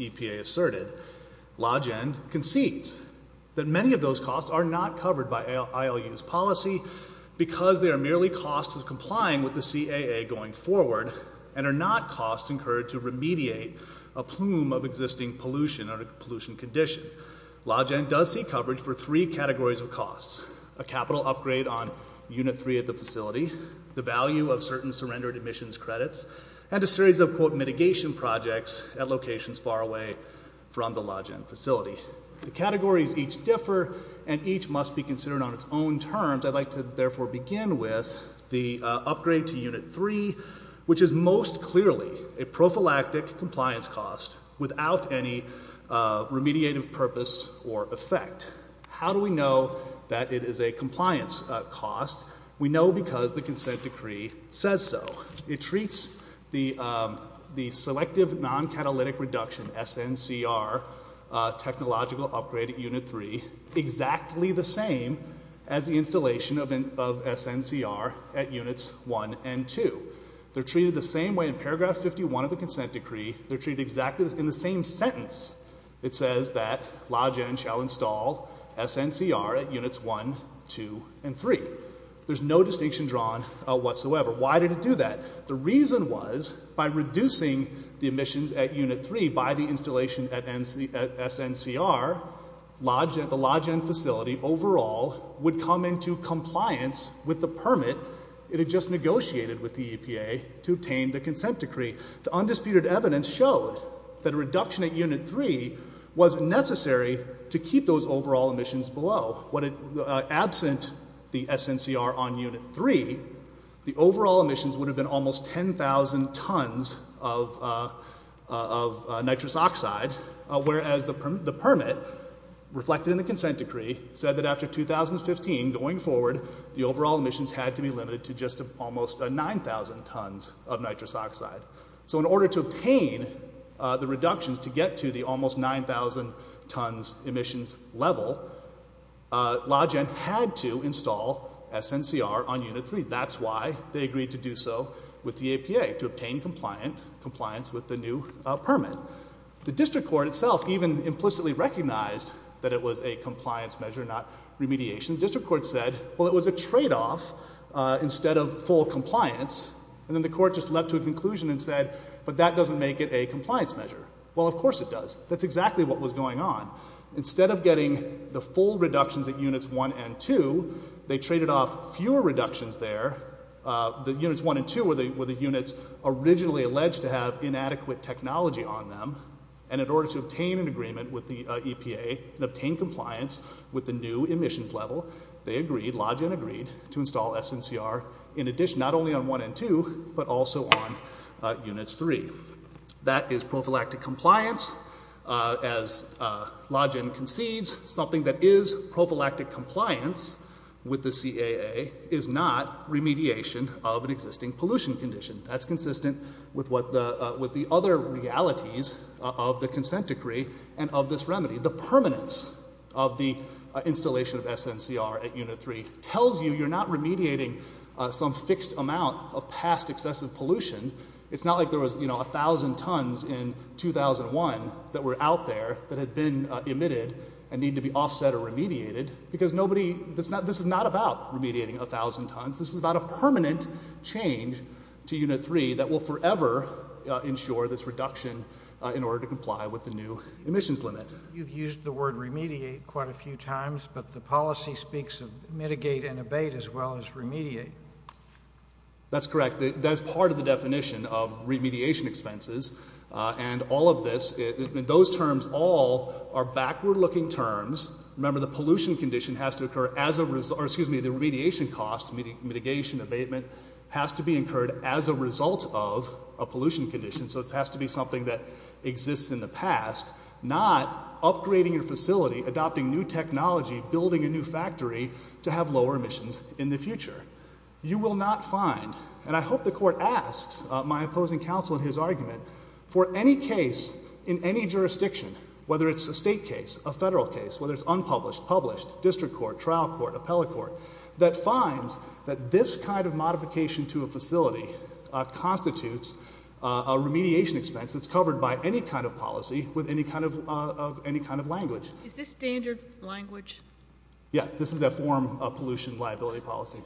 EPA asserted, LaGen concedes that many of those costs are not covered by ILU's policy because they are merely costs of complying with the CAA going forward and are not costs incurred to remediate a plume of existing pollution or pollution condition. LaGen does see coverage for three categories of costs, a capital upgrade on Unit 3 at the facility, the value of certain surrendered emissions credits, and a series of, quote, mitigation projects at locations far away from the LaGen facility. The categories each differ and each must be considered on its own terms. I'd like to therefore begin with the upgrade to Unit 3, which is most clearly a prophylactic compliance cost without any remediative purpose or effect. How do we know that it is a compliance cost? We know because the consent decree says so. It treats the selective non-catalytic reduction, SNCR, technological upgrade at Unit 3 exactly the same as the installation of SNCR at Units 1 and 2. They're treated the same way in paragraph 51 of the consent decree. They're treated exactly in the same sentence. It says that LaGen shall install SNCR at Units 1, 2, and 3. There's no distinction drawn whatsoever. Why did it do that? The reason was by reducing the emissions at Unit 3 by the installation at SNCR, the LaGen facility overall would come into compliance with the permit it had just negotiated with the EPA to obtain the consent decree. The undisputed evidence showed that a reduction at Unit 3 was necessary to keep those overall emissions below. Absent the SNCR on Unit 3, the overall emissions would have been almost 10,000 tons of nitrous oxide, whereas the permit, reflected in the consent decree, said that after 2015, going forward, the overall emissions had to be limited to just almost 9,000 tons of nitrous oxide. So in order to obtain the reductions to get to the almost 9,000 tons emissions level, LaGen had to install SNCR on Unit 3. That's why they agreed to do so with the EPA, to obtain compliance with the new permit. The district court itself even implicitly recognized that it was a compliance measure, not remediation. The district court said, well, it was a tradeoff instead of full compliance, and then the court just leapt to a conclusion and said, but that doesn't make it a compliance measure. Well, of course it does. That's exactly what was done. With full reductions at Units 1 and 2, they traded off fewer reductions there. The Units 1 and 2 were the units originally alleged to have inadequate technology on them, and in order to obtain an agreement with the EPA and obtain compliance with the new emissions level, they agreed, LaGen agreed, to install SNCR in addition, not only on 1 and 2, but also on Units 3. That is prophylactic compliance. As LaGen concedes, something that is prophylactic compliance with the CAA is not remediation of an existing pollution condition. That's consistent with what the, with the other realities of the consent decree and of this remedy. The permanence of the installation of SNCR at Unit 3 tells you you're not remediating some fixed amount of past excessive pollution. It's not like there was, you know, a thousand tons in 2001 that were out there that had been emitted and need to be offset or remediated, because nobody, that's not, this is not about remediating a thousand tons. This is about a permanent change to Unit 3 that will forever ensure this reduction in order to comply with the new emissions limit. You've used the word remediate quite a few times, but the policy speaks of mitigate and abate as well as remediate. That's correct. That's part of the definition of remediation expenses, and all of this, those terms all are backward-looking terms. Remember, the pollution condition has to occur as a result, or excuse me, the remediation cost, mitigation, abatement, has to be incurred as a result of a pollution condition. So it has to be something that exists in the past, not upgrading your facility, adopting new factory to have lower emissions in the future. You will not find, and I hope the court asks my opposing counsel in his argument, for any case in any jurisdiction, whether it's a state case, a federal case, whether it's unpublished, published, district court, trial court, appellate court, that finds that this kind of modification to a facility constitutes a remediation expense that's covered by any kind of policy with any kind of language. Is this standard language? Yes, this is a form of pollution liability policy.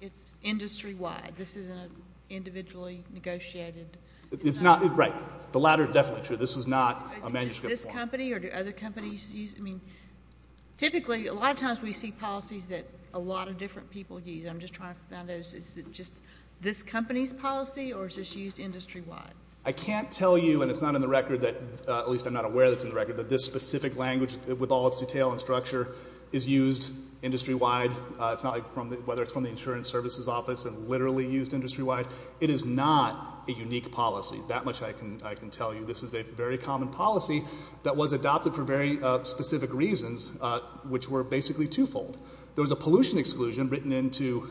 It's industry-wide. This isn't an individually negotiated? It's not, right. The latter is definitely true. This was not a manuscript form. Is it this company or do other companies use it? I mean, typically, a lot of times we see policies that a lot of different people use. I'm just trying to find out, is it just this company's policy, or is this used industry-wide? I can't tell you, and it's not in the record that, at least I'm not aware that it's in the district language with all its detail and structure, is used industry-wide, whether it's from the insurance services office and literally used industry-wide. It is not a unique policy. That much I can tell you. This is a very common policy that was adopted for very specific reasons, which were basically twofold. There was a pollution exclusion written into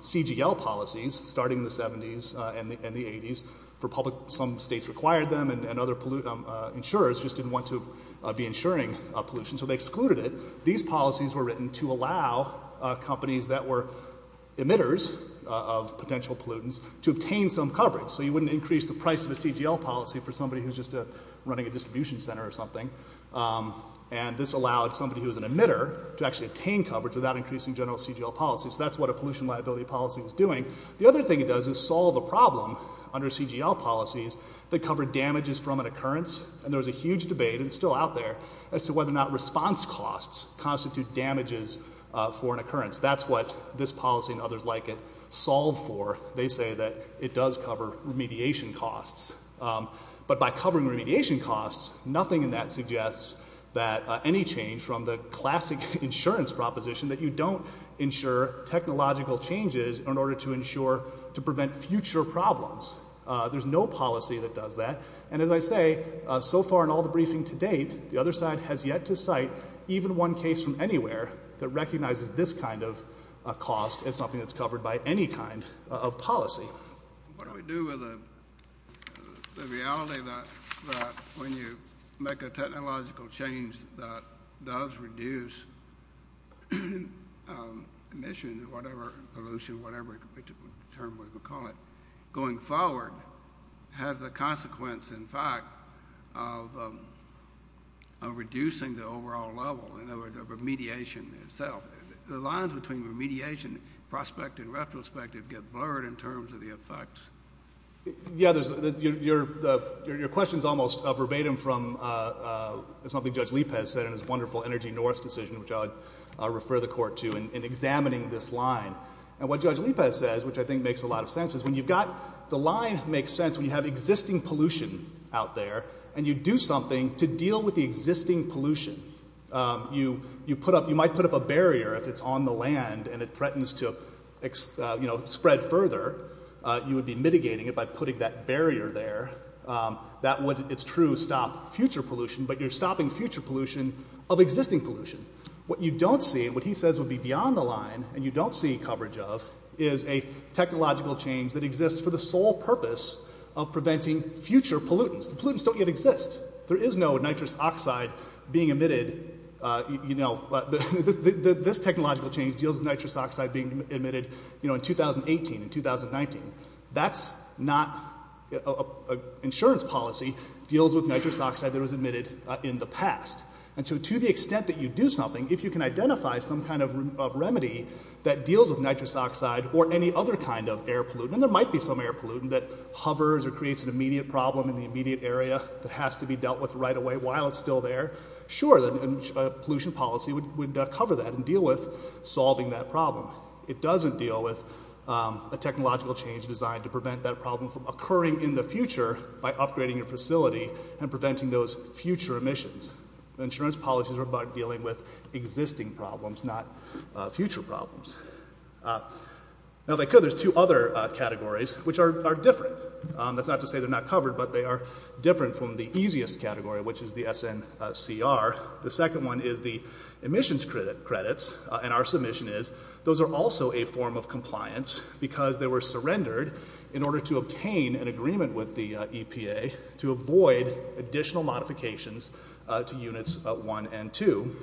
CGL policies starting in the 70s and the 80s for public, some states required them, and other insurers just didn't want to be insuring pollution, so they excluded it. These policies were written to allow companies that were emitters of potential pollutants to obtain some coverage. So you wouldn't increase the price of a CGL policy for somebody who's just running a distribution center or something. And this allowed somebody who was an emitter to actually obtain coverage without increasing general CGL policy. So that's what a pollution liability policy is doing. The other thing it does is solve a problem under CGL policies that cover damages from an occurrence, and there was a huge debate, and it's still out there, as to whether or not response costs constitute damages for an occurrence. That's what this policy and others like it solve for. They say that it does cover remediation costs. But by covering remediation costs, nothing in that suggests that any change from the classic insurance proposition that you don't insure technological changes in order to insure to prevent future problems. There's no policy that does that. And as I say, so far in all the briefing to date, the other side has yet to cite even one case from anywhere that recognizes this kind of cost as something that's covered by any kind of policy. What do we do with the reality that when you make a technological change that does reduce emissions or whatever, pollution, whatever term we would call it, going forward has the consequence, in fact, of reducing the overall level, in other words, of remediation itself. The lines between remediation, prospect and retrospective, get blurred in terms of the effects. Yeah, your question is almost verbatim from something Judge Lippez said in his wonderful Energy North decision, which I'll refer the Court to, in examining this line. And what Judge Lippez says, which I think makes a lot of sense, is when you've got the line makes sense when you have existing pollution out there, and you do something to deal with the existing pollution. You might put up a barrier if it's on the land and it threatens to spread further. You would be mitigating it by putting that barrier there. That would, it's true, stop future pollution, but you're stopping future pollution of existing pollution. What you don't see, what he says would be beyond the line, and you don't see coverage of, is a technological change that exists for the sole purpose of preventing future pollutants. The pollutants don't yet exist. There is no nitrous oxide being emitted, you know, this technological change deals with nitrous oxide being emitted, you know, in 2018 and 2019. That's not, insurance policy deals with nitrous oxide that was emitted in the past. And so to the extent that you do something, if you can identify some kind of remedy that deals with nitrous oxide or any other kind of air pollutant, and there might be some air pollutant that hovers or creates an immediate problem in the immediate area that has to be dealt with right away while it's still there, sure, a pollution policy would cover that and deal with solving that problem. It doesn't deal with a technological change designed to prevent that problem from occurring in the future by upgrading your facility and preventing those future emissions. Insurance policies are about dealing with existing problems, not future problems. Now, if I could, there's two other categories, which are different. That's not to say they're not covered, but they are different from the easiest category, which is the SNCR. The second one is the emissions credits, and our submission is those are also a form of compliance because they were surrendered in order to obtain an agreement with the EPA to avoid additional modifications to Units 1 and 2.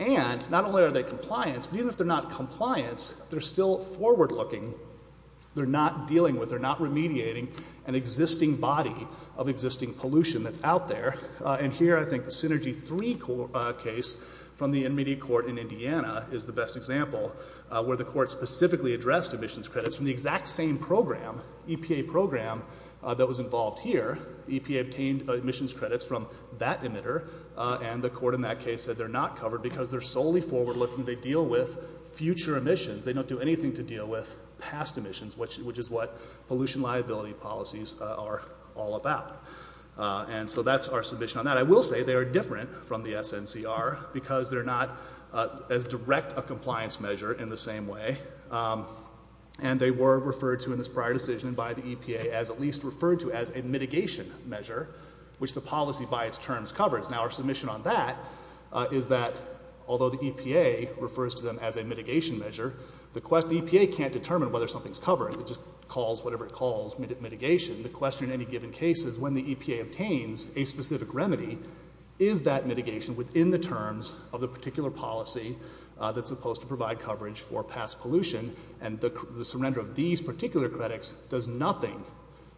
And not only are they compliance, but even if they're not compliance, they're still forward-looking. They're not dealing with, they're not remediating an existing body of existing pollution that's out there. And here I think the Synergy 3 case from the intermediate court in Indiana is the best example where the court specifically addressed emissions credits from the exact same program, EPA program, that was involved here. The EPA obtained emissions credits from that emitter, and the court in that case said they're not covered because they're solely forward-looking. They deal with future emissions. They don't do anything to deal with past emissions, which is what pollution liability policies are all about. And so that's our submission on that. I will say they are different from the SNCR because they're not as direct a compliance measure in the same way, and they were referred to in this prior decision by the EPA as at least referred to as a mitigation measure, which the policy by its terms covers. Now our submission on that is that, although the EPA refers to them as a mitigation measure, the EPA can't determine whether something's covered. It just calls whatever it calls mitigation. The question in any given case is when the EPA obtains a specific remedy, is that mitigation within the terms of the particular policy that's supposed to provide coverage for past pollution? And the surrender of these particular credits does nothing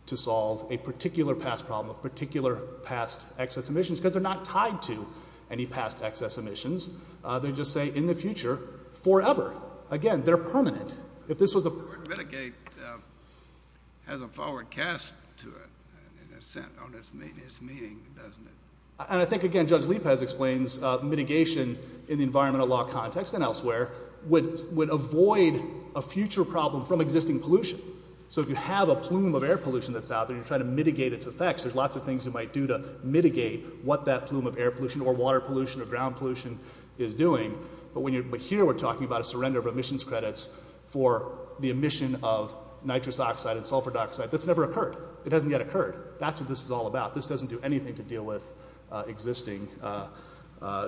to solve a particular past problem of particular past excess emissions because they're not tied to any past excess emissions. They just say, in the future, forever. Again, they're permanent. If this was a... But mitigate has a forward cast to it, in a sense, on its meaning, doesn't it? And I think, again, Judge Lepez explains mitigation in the environmental law context and elsewhere would avoid a future problem from existing pollution. So if you have a plume of air pollution that's out there and you're trying to mitigate its effects, there's lots of things you might do to mitigate what that plume of air pollution or water pollution or ground pollution is doing. But here we're talking about a surrender of emissions credits for the emission of nitrous oxide and sulfur dioxide that's never occurred. It hasn't yet occurred. That's what this is all about. This doesn't do anything to deal with existing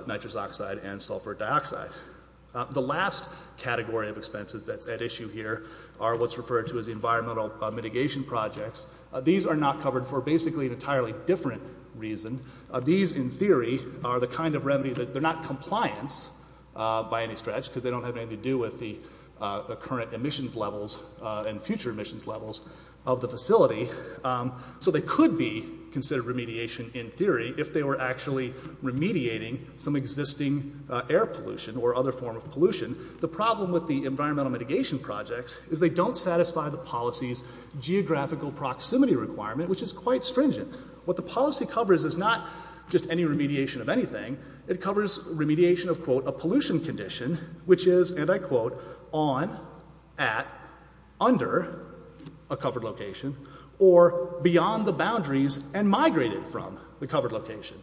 nitrous oxide and sulfur dioxide. The last category of expenses that's at issue here are what's referred to as environmental mitigation projects. These are not covered for basically an entirely different reason. These, in theory, are the kind of remedy that... They're not compliance by any stretch because they don't have anything to do with the current emissions levels and future emissions levels of the facility. So they could be considered remediation in theory if they were actually remediating some existing air pollution or other form of pollution. The problem with the environmental mitigation projects is they don't satisfy the policy's geographical proximity requirement, which is quite stringent. What the policy covers is not just any remediation of anything. It covers remediation of, quote, a pollution condition, which is, and I quote, on, at, under a covered location, or beyond the boundaries and migrated from the covered location.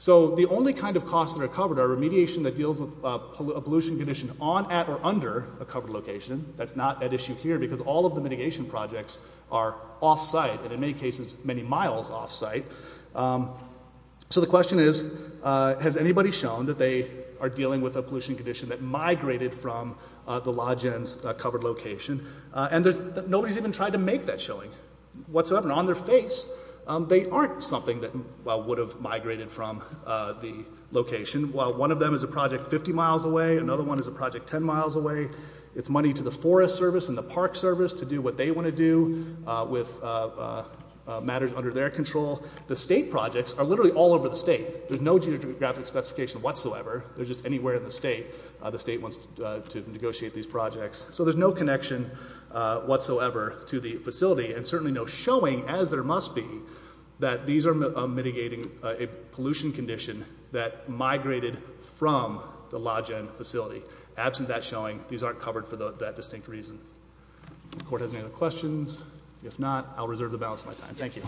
So the only kind of costs that are covered are remediation that deals with a pollution condition on, at, or under a covered location. That's not at issue here because all of the mitigation projects are off-site and, in many cases, many miles off-site. So the question is, has anybody shown that they are dealing with a pollution condition that migrated from the log-in's covered location? And nobody's even tried to make that showing whatsoever. On their face, they aren't something that, well, would have migrated from the location. One of them is a project 50 miles away. Another one is a project 10 miles away. It's money to the Forest Service and the Park Service to do what they want to do with matters under their control. The state projects are literally all over the state. There's no geographic specification whatsoever. They're just anywhere in the state. The state wants to negotiate these projects. So there's no connection whatsoever to the facility and certainly no showing, as there must be, that these are mitigating a pollution condition that migrated from the log-in facility. Absent that showing, these aren't covered for that distinct reason. If the court has any other questions, if not, I'll reserve the balance of my time. Thank you.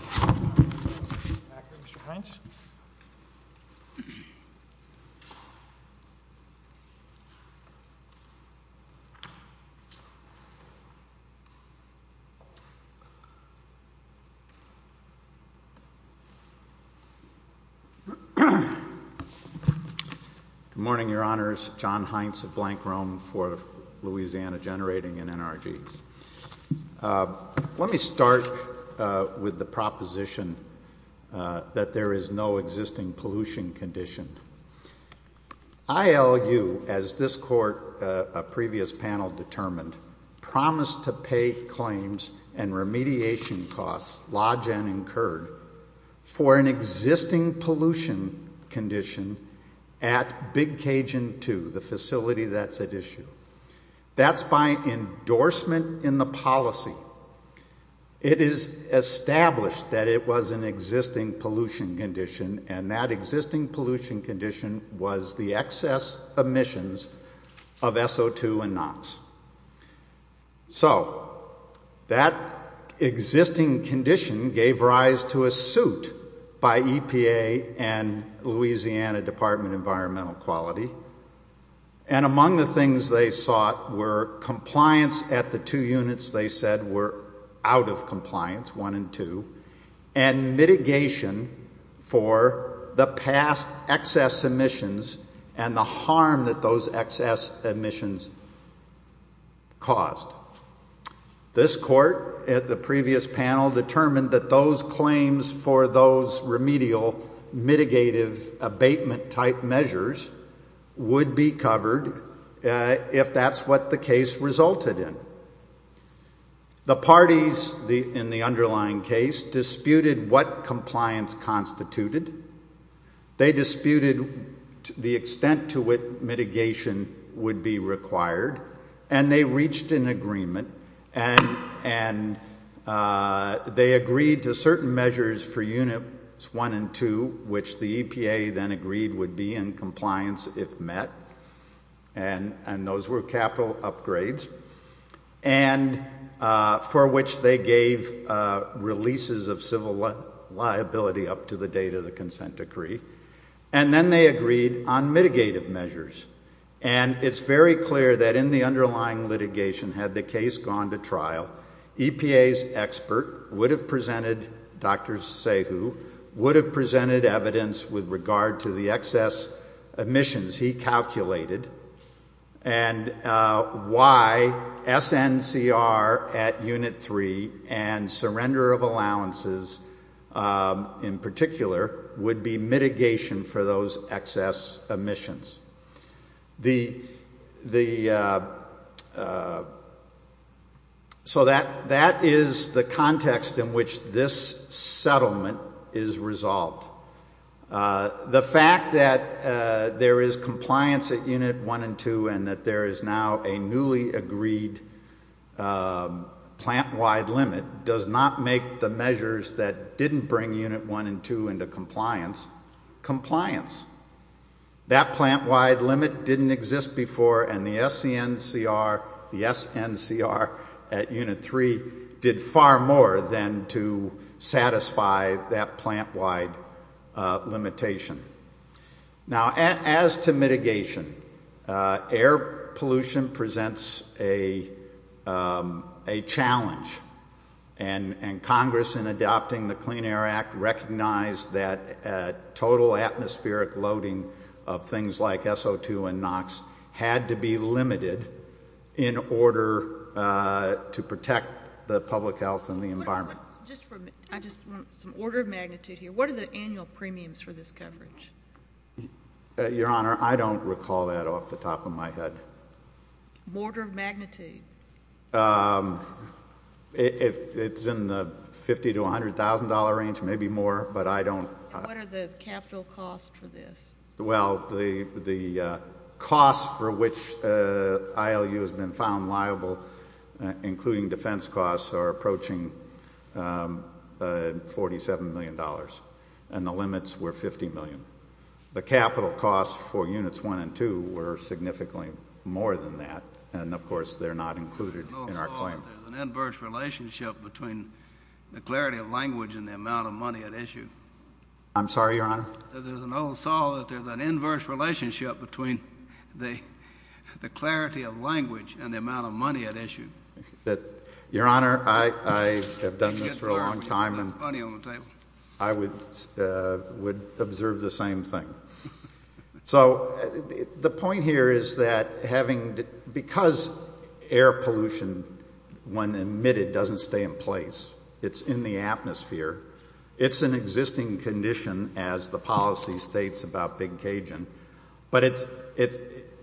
Good morning, Your Honors. John Heintz of Blank Rome for Louisiana Generating and NRG. Let me start with the proposition that there is no existing pollution condition. I argue, as this court a previous panel determined, promise to pay claims and remediation costs lodged and incurred for an existing pollution condition at Big Cajun II, the facility that's at issue. That's by endorsement in the policy. It is established that it was an existing pollution condition, and that existing pollution condition was the excess emissions of SO2 and NOx. So that existing condition gave rise to a suit by EPA and Louisiana Department of Environmental Quality, and among the things they sought were compliance at the two units they said were out of compliance, one and two, and mitigation for the past excess emissions and the harm that those excess emissions caused. This court, at the previous panel, determined that those claims for those remedial mitigative abatement type measures would be covered if that's what the case resulted in. The parties in the underlying case disputed what compliance constituted. They disputed the extent to which mitigation would be required, and they reached an agreement and they agreed to certain measures for units one and two, which the EPA then agreed would be in compliance if met, and those were capital upgrades, and for which they gave releases of civil liability up to the date of the consent decree, and then they agreed on mitigative measures, and it's very clear that in the which the EPA has gone to trial, EPA's expert would have presented evidence with regard to the excess emissions he calculated and why SNCR at unit three and surrender of allowances in particular would be mitigation for those excess emissions. The so that is the context in which this settlement is resolved. The fact that there is compliance at unit one and two and that there is now a newly agreed does not make the measures that didn't bring unit one and two into compliance, compliance. That plant wide limit didn't exist before and the SCNCR, the SNCR at unit three did far more than to satisfy that plant wide limitation. Now as to mitigation, air pollution presents a challenge and Congress in adopting the Clean Air Act recognized that total atmospheric loading of things like SO2 and NOx had to be limited in order to protect the public health and the environment. I just want some order of magnitude here. What are the annual premiums for this coverage? Your Honor, I don't recall that off the top of my head. Order of magnitude? It's in the fifty to a hundred thousand dollar range maybe more, but I don't What are the capital costs for this? Well, the costs for which ILU has been found liable including defense costs are approaching 47 million dollars and the limits were 50 million. The capital costs for units one and two were significantly more than that and of course they're not included in our claim. There's an inverse relationship between the clarity of language and the amount of money at issue. There's an inverse relationship between the clarity of language and the amount of money at issue. Your Honor, I have done this for a long time and I would observe the same thing. The point here is that because air pollution when emitted doesn't stay in place. It's in the atmosphere. It's an existing condition as the policy states about Big Cajun.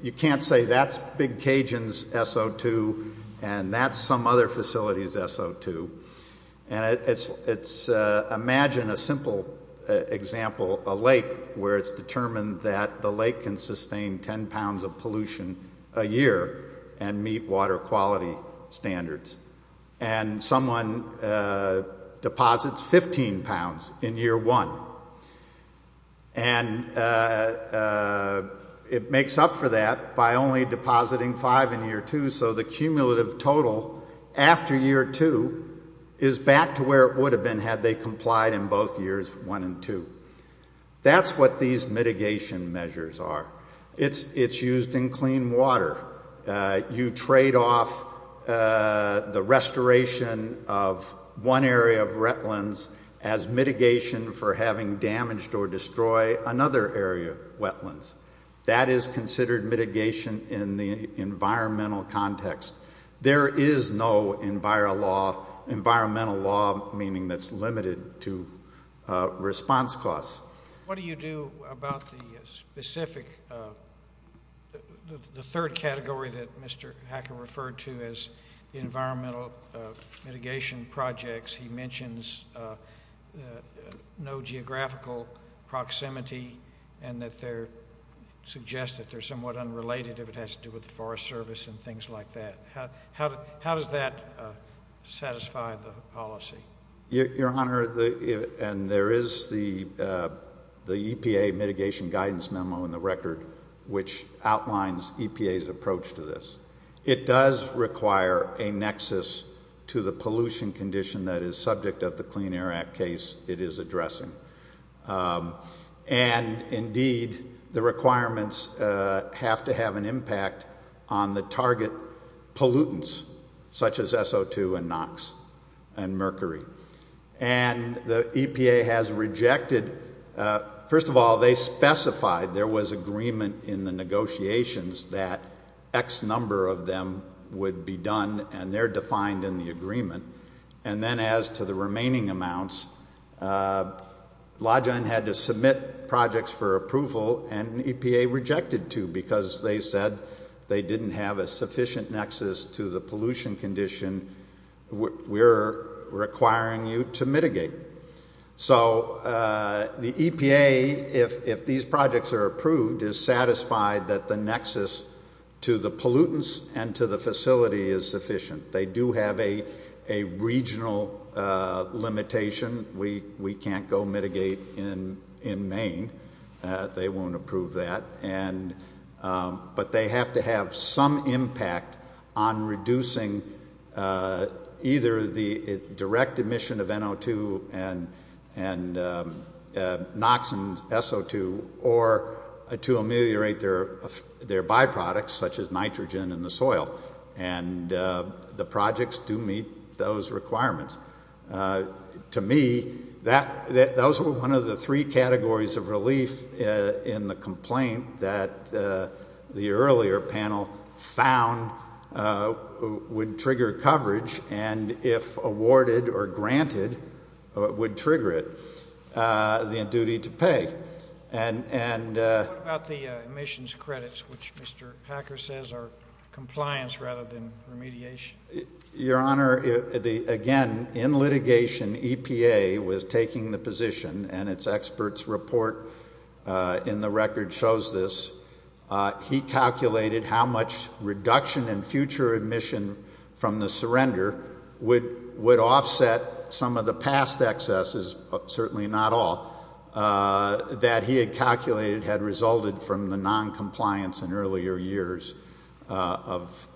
You can't say that's Big Cajun's SO2 and that's some other facility's SO2 and it's a lake where it's determined that the lake can sustain ten pounds of pollution a year and meet water quality standards and someone deposits fifteen pounds in year one and it makes up for that by only depositing five in year two so the cumulative total after year two is back to where it would have been had they complied in both years one and two. That's what these mitigation measures are. It's used in clean water. You trade off the restoration of one area of wetlands as mitigation for having damaged or destroyed another area of wetlands. That is considered mitigation in the environmental context. There is no environmental law meaning that's limited to response costs. What do you do about the specific the third category that Mr. Hacker referred to as environmental mitigation projects? He mentions no geographical proximity and that they're suggest that they're somewhat unrelated if it has to do with the Forest Service and things like that. How does that satisfy the policy? Your Honor and there is the EPA mitigation guidance memo in the record which outlines EPA's approach to this. It does require a nexus to the pollution condition that is subject of the Clean Air Act case it is addressing. Indeed the requirements have to have an impact on the target pollutants such as SO2 and NOx and mercury. The EPA has rejected first of all they specified there was agreement in the negotiations that X number of them would be done and they're defined in the agreement. Then as to the remaining amounts Lawgine had to submit projects for approval and EPA rejected two because they said they didn't have a sufficient nexus to the pollution condition we're requiring you to mitigate. The EPA if these projects are approved is satisfied that the nexus to the pollutants and to the facility is sufficient. They do have a regional limitation we can't go mitigate in Maine they won't approve that but they have to have some impact on reducing either the direct emission of NO2 and NOx and SO2 or to ameliorate their byproducts such as nitrogen in the soil and the projects do meet those requirements. To me that was one of the three categories of relief in the complaint that the earlier panel found would trigger coverage and if awarded or granted would trigger it the duty to pay. What about the emissions credits which Mr. Hacker says are compliance rather than remediation? Your honor again in litigation EPA was taking the position and it's experts report in the record shows this he calculated how much reduction in future emission from the surrender would offset some of the past excesses certainly not all that he had calculated had resulted from the non-compliance in earlier years of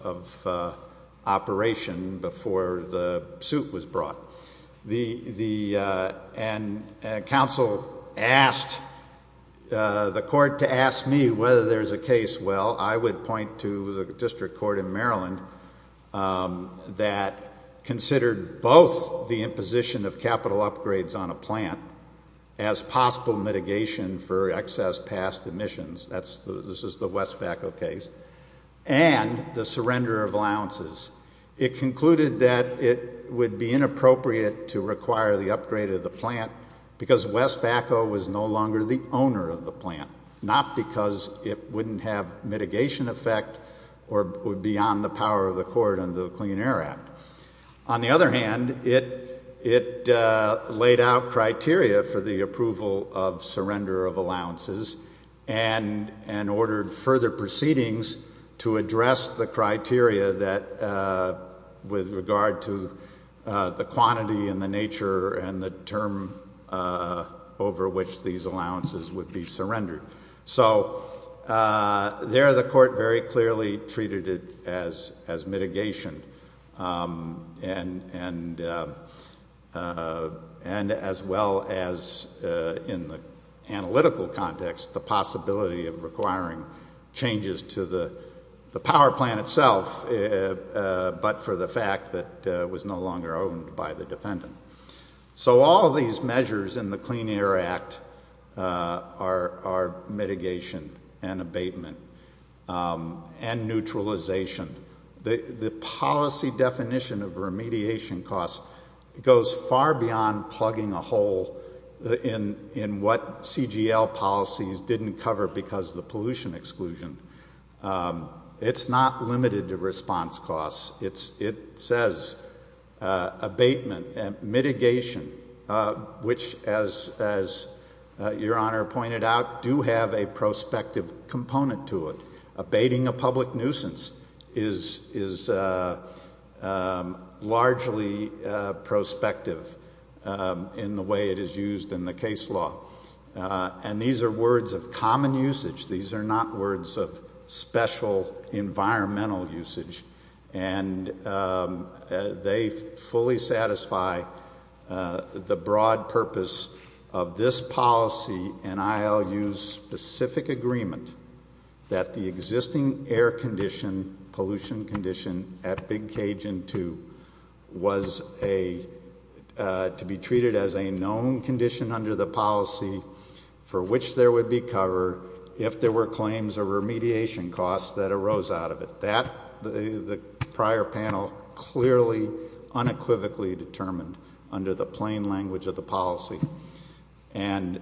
operation before the suit was brought and council asked the court to ask me whether there's a case well I would point to the district court in Maryland that considered both the imposition of capital upgrades on a plant as possible mitigation for excess past emissions this is the Westfaco case and the surrender of allowances it concluded that it would be inappropriate to require the upgrade of the plant because Westfaco was no longer the owner of the plant not because it wouldn't have mitigation effect or would be on the power of the court under the Clean Air Act on the other hand it laid out criteria for the approval of surrender of allowances and ordered further proceedings to address the criteria that with regard to the quantity and the nature and the term over which these allowances would be surrendered so there the court very clearly treated it as mitigation and and as well as in the analytical context the possibility of requiring changes to the power plant itself but for the fact that it was no longer owned by the defendant so all these measures in the Clean Air Act are mitigation and abatement and neutralization the policy definition of remediation costs goes far beyond plugging a hole in what CGL policies didn't cover because of the pollution exclusion it's not limited to response costs it says abatement mitigation which as your honor pointed out do have a prospective component to it abating a public nuisance is largely prospective in the way it is used in the case law and these are words of common usage these are not words of special environmental usage and they fully satisfy the broad purpose of this policy and ILU's specific agreement that the existing air condition pollution condition at Big Cajun 2 was a to be treated as a known condition under the policy for which there would be cover if there were claims there was a remediation cost that arose out of it the prior panel clearly unequivocally determined under the plain language of the policy and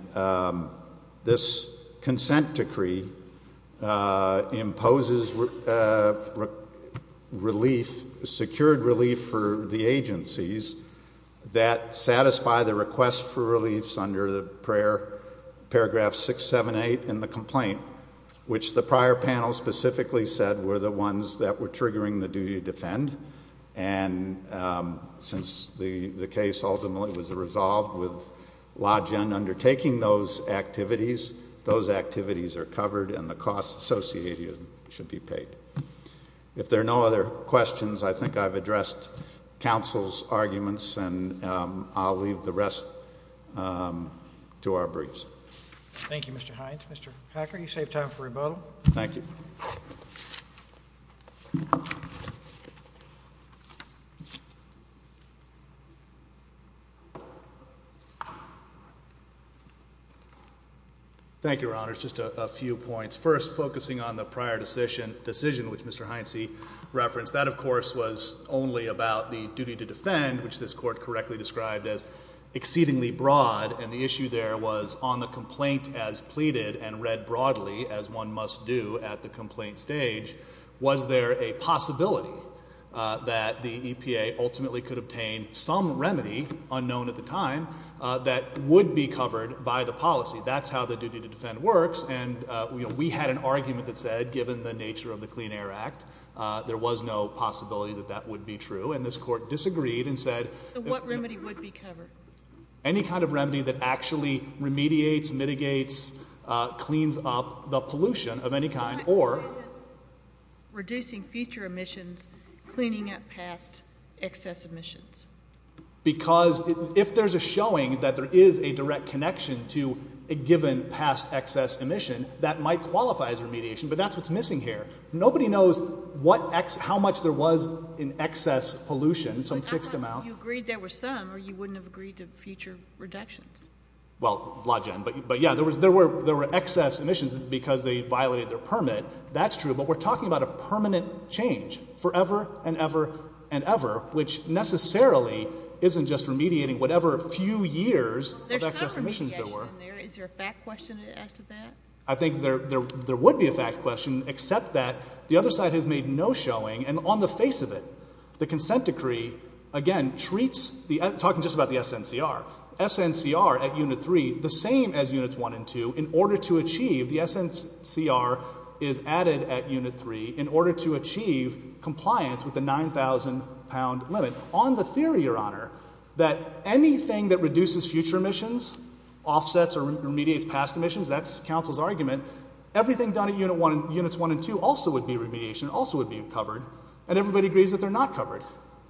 this consent decree imposes relief secured relief for the agencies that satisfy the request for reliefs under paragraph 678 in the complaint which the prior panel specifically said were the ones that were triggering the duty to defend and since the case ultimately was resolved with LAWGEN undertaking those activities those activities are covered and the cost associated should be paid if there are no other questions I think I've addressed council's arguments and I'll leave the rest to our briefs Thank you Mr. Hines Mr. Hacker you saved time for rebuttal Thank you Thank you your honors just a few points first focusing on the prior decision which Mr. Hines referenced that of course was only about the duty to defend which this court correctly described as exceedingly broad and the issue there was on the complaint as pleaded and read broadly as one must do at the complaint stage was there a possibility that the EPA ultimately could obtain some remedy unknown at the time that would be covered by the policy that's how the duty to defend works and we had an argument that said given the nature of the Clean Air Act there was no possibility that that would be true and this court disagreed and said what remedy would be covered any kind of remedy that actually remediates, mitigates, cleans up the pollution of any kind or reducing future emissions cleaning up past excess emissions because if there's a showing that there is a direct connection to a given past excess emission that might qualify as remediation but that's what's missing here nobody knows what how much there was in excess pollution, some fixed amount you agreed there were some or you wouldn't have agreed to future reductions there were excess emissions because they violated their permit, that's true but we're talking about a permanent change forever and ever and ever which necessarily isn't just remediating whatever few years of excess emissions there were is there a fact question as to that? I think there would be a fact question except that the other side has made no showing and on the face of it the consent decree again treats, talking just about the SNCR SNCR at unit 3 the same as units 1 and 2 in order to achieve the SNCR is added at unit 3 in order to achieve compliance with the 9,000 pound limit on the theory your honor that anything that reduces future emissions, offsets or remediates past emissions, that's counsel's argument everything done at units 1 and 2 also would be remediation, also would be covered and everybody agrees that they're not covered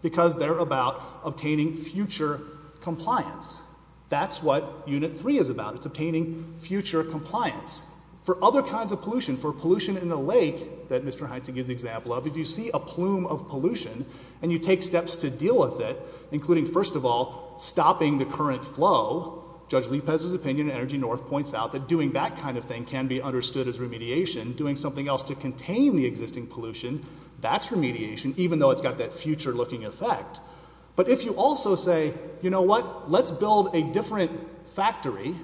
because they're about obtaining future compliance that's what unit 3 is about, it's obtaining future compliance for other kinds of pollution for pollution in the lake that Mr. Heintze gives the example of, if you see a plume of pollution and you take steps to deal with it, including first of all stopping the current flow Judge Lipez's opinion, Energy North points out that doing that kind of thing can be understood as remediation, doing something else to contain the existing pollution that's remediation, even though it's got that future looking effect, but if you also say, you know what let's build a different factory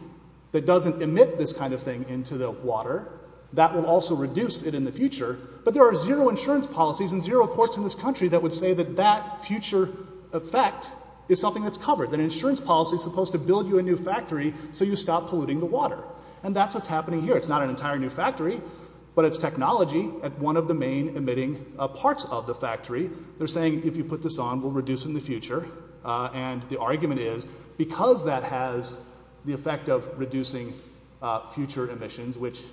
that doesn't emit this kind of thing into the water, that will also reduce it in the future but there are zero insurance policies and zero courts in this country that would say that that future effect is something that's covered, that insurance policy is supposed to build you a new factory so you stop polluting the water and that's what's happening here, it's not an entire new factory, but it's technology at one of the main emitting parts of the factory, they're saying if you put this on we'll reduce it in the future and the argument is because that has the effect of reducing future emissions, which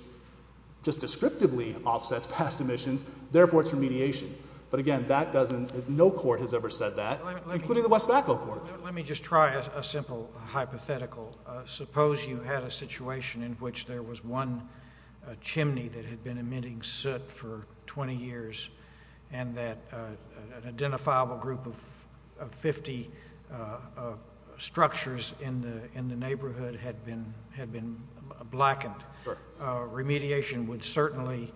just descriptively offsets past emissions therefore it's remediation, but again that doesn't, no court has ever said that including the West Vaco Court let me just try a simple hypothetical, suppose you had a situation in which there was one chimney that had been emitting soot for 20 years and that an identifiable group of 50 structures in the neighborhood had been blackened, remediation would certainly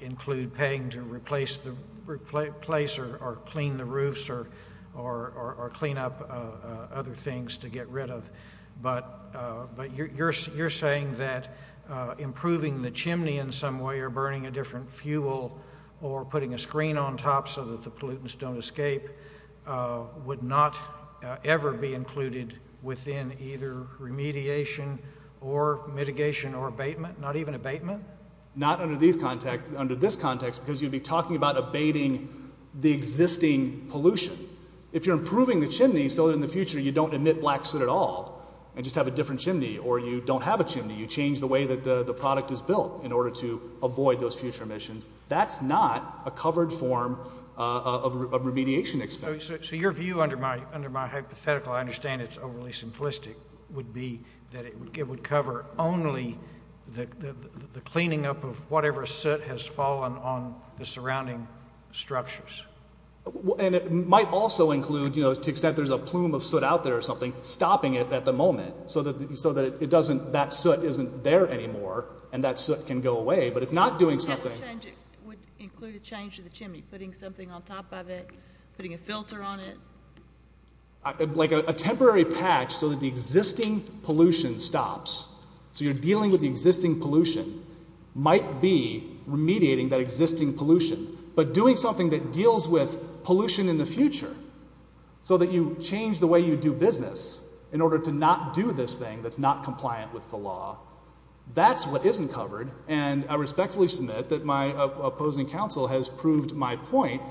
include paying to replace or clean the roofs or clean up other things to get rid of but you're saying that improving the chimney in some way or burning a different fuel or putting a screen on top so that the pollutants don't escape would not ever be included within either remediation or mitigation or abatement, not even abatement not under this context because you'd be talking about abating the existing pollution if you're improving the chimney so that in the future you don't emit black soot at all and just have a different chimney or you don't have a chimney you change the way that the product is built in order to avoid those future emissions that's not a covered form of remediation expected. So your view under my hypothetical, I understand it's overly simplistic, would be that it would cover only the cleaning up of whatever soot has fallen on the surrounding structures and it might also include, to the extent there's a plume of soot out there or something, stopping it at the moment so that it doesn't, that soot isn't there anymore and that soot can go away, but it's not doing something would include a change to the chimney putting something on top of it putting a filter on it like a temporary patch so that the existing pollution stops so you're dealing with the existing pollution, might be remediating that existing pollution but doing something that deals with pollution in the future so that you change the way you do business in order to not do this thing that's not compliant with the law that's what isn't covered and I respectfully submit that my opposing counsel has proved my point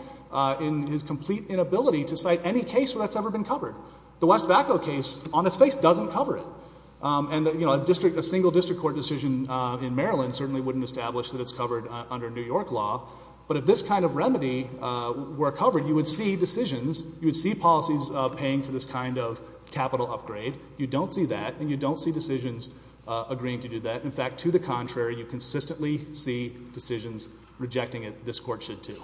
in his complete inability to cite any case where that's ever been covered the West Vaco case, on it's face, doesn't cover it and a single district court decision in Maryland certainly wouldn't establish that it's covered under New York law but if this kind of remedy were covered, you would see decisions you would see policies paying for this kind of capital upgrade, you don't see that and you don't see decisions agreeing to do that, in fact, to the contrary you consistently see decisions rejecting it, this court should too Thank you.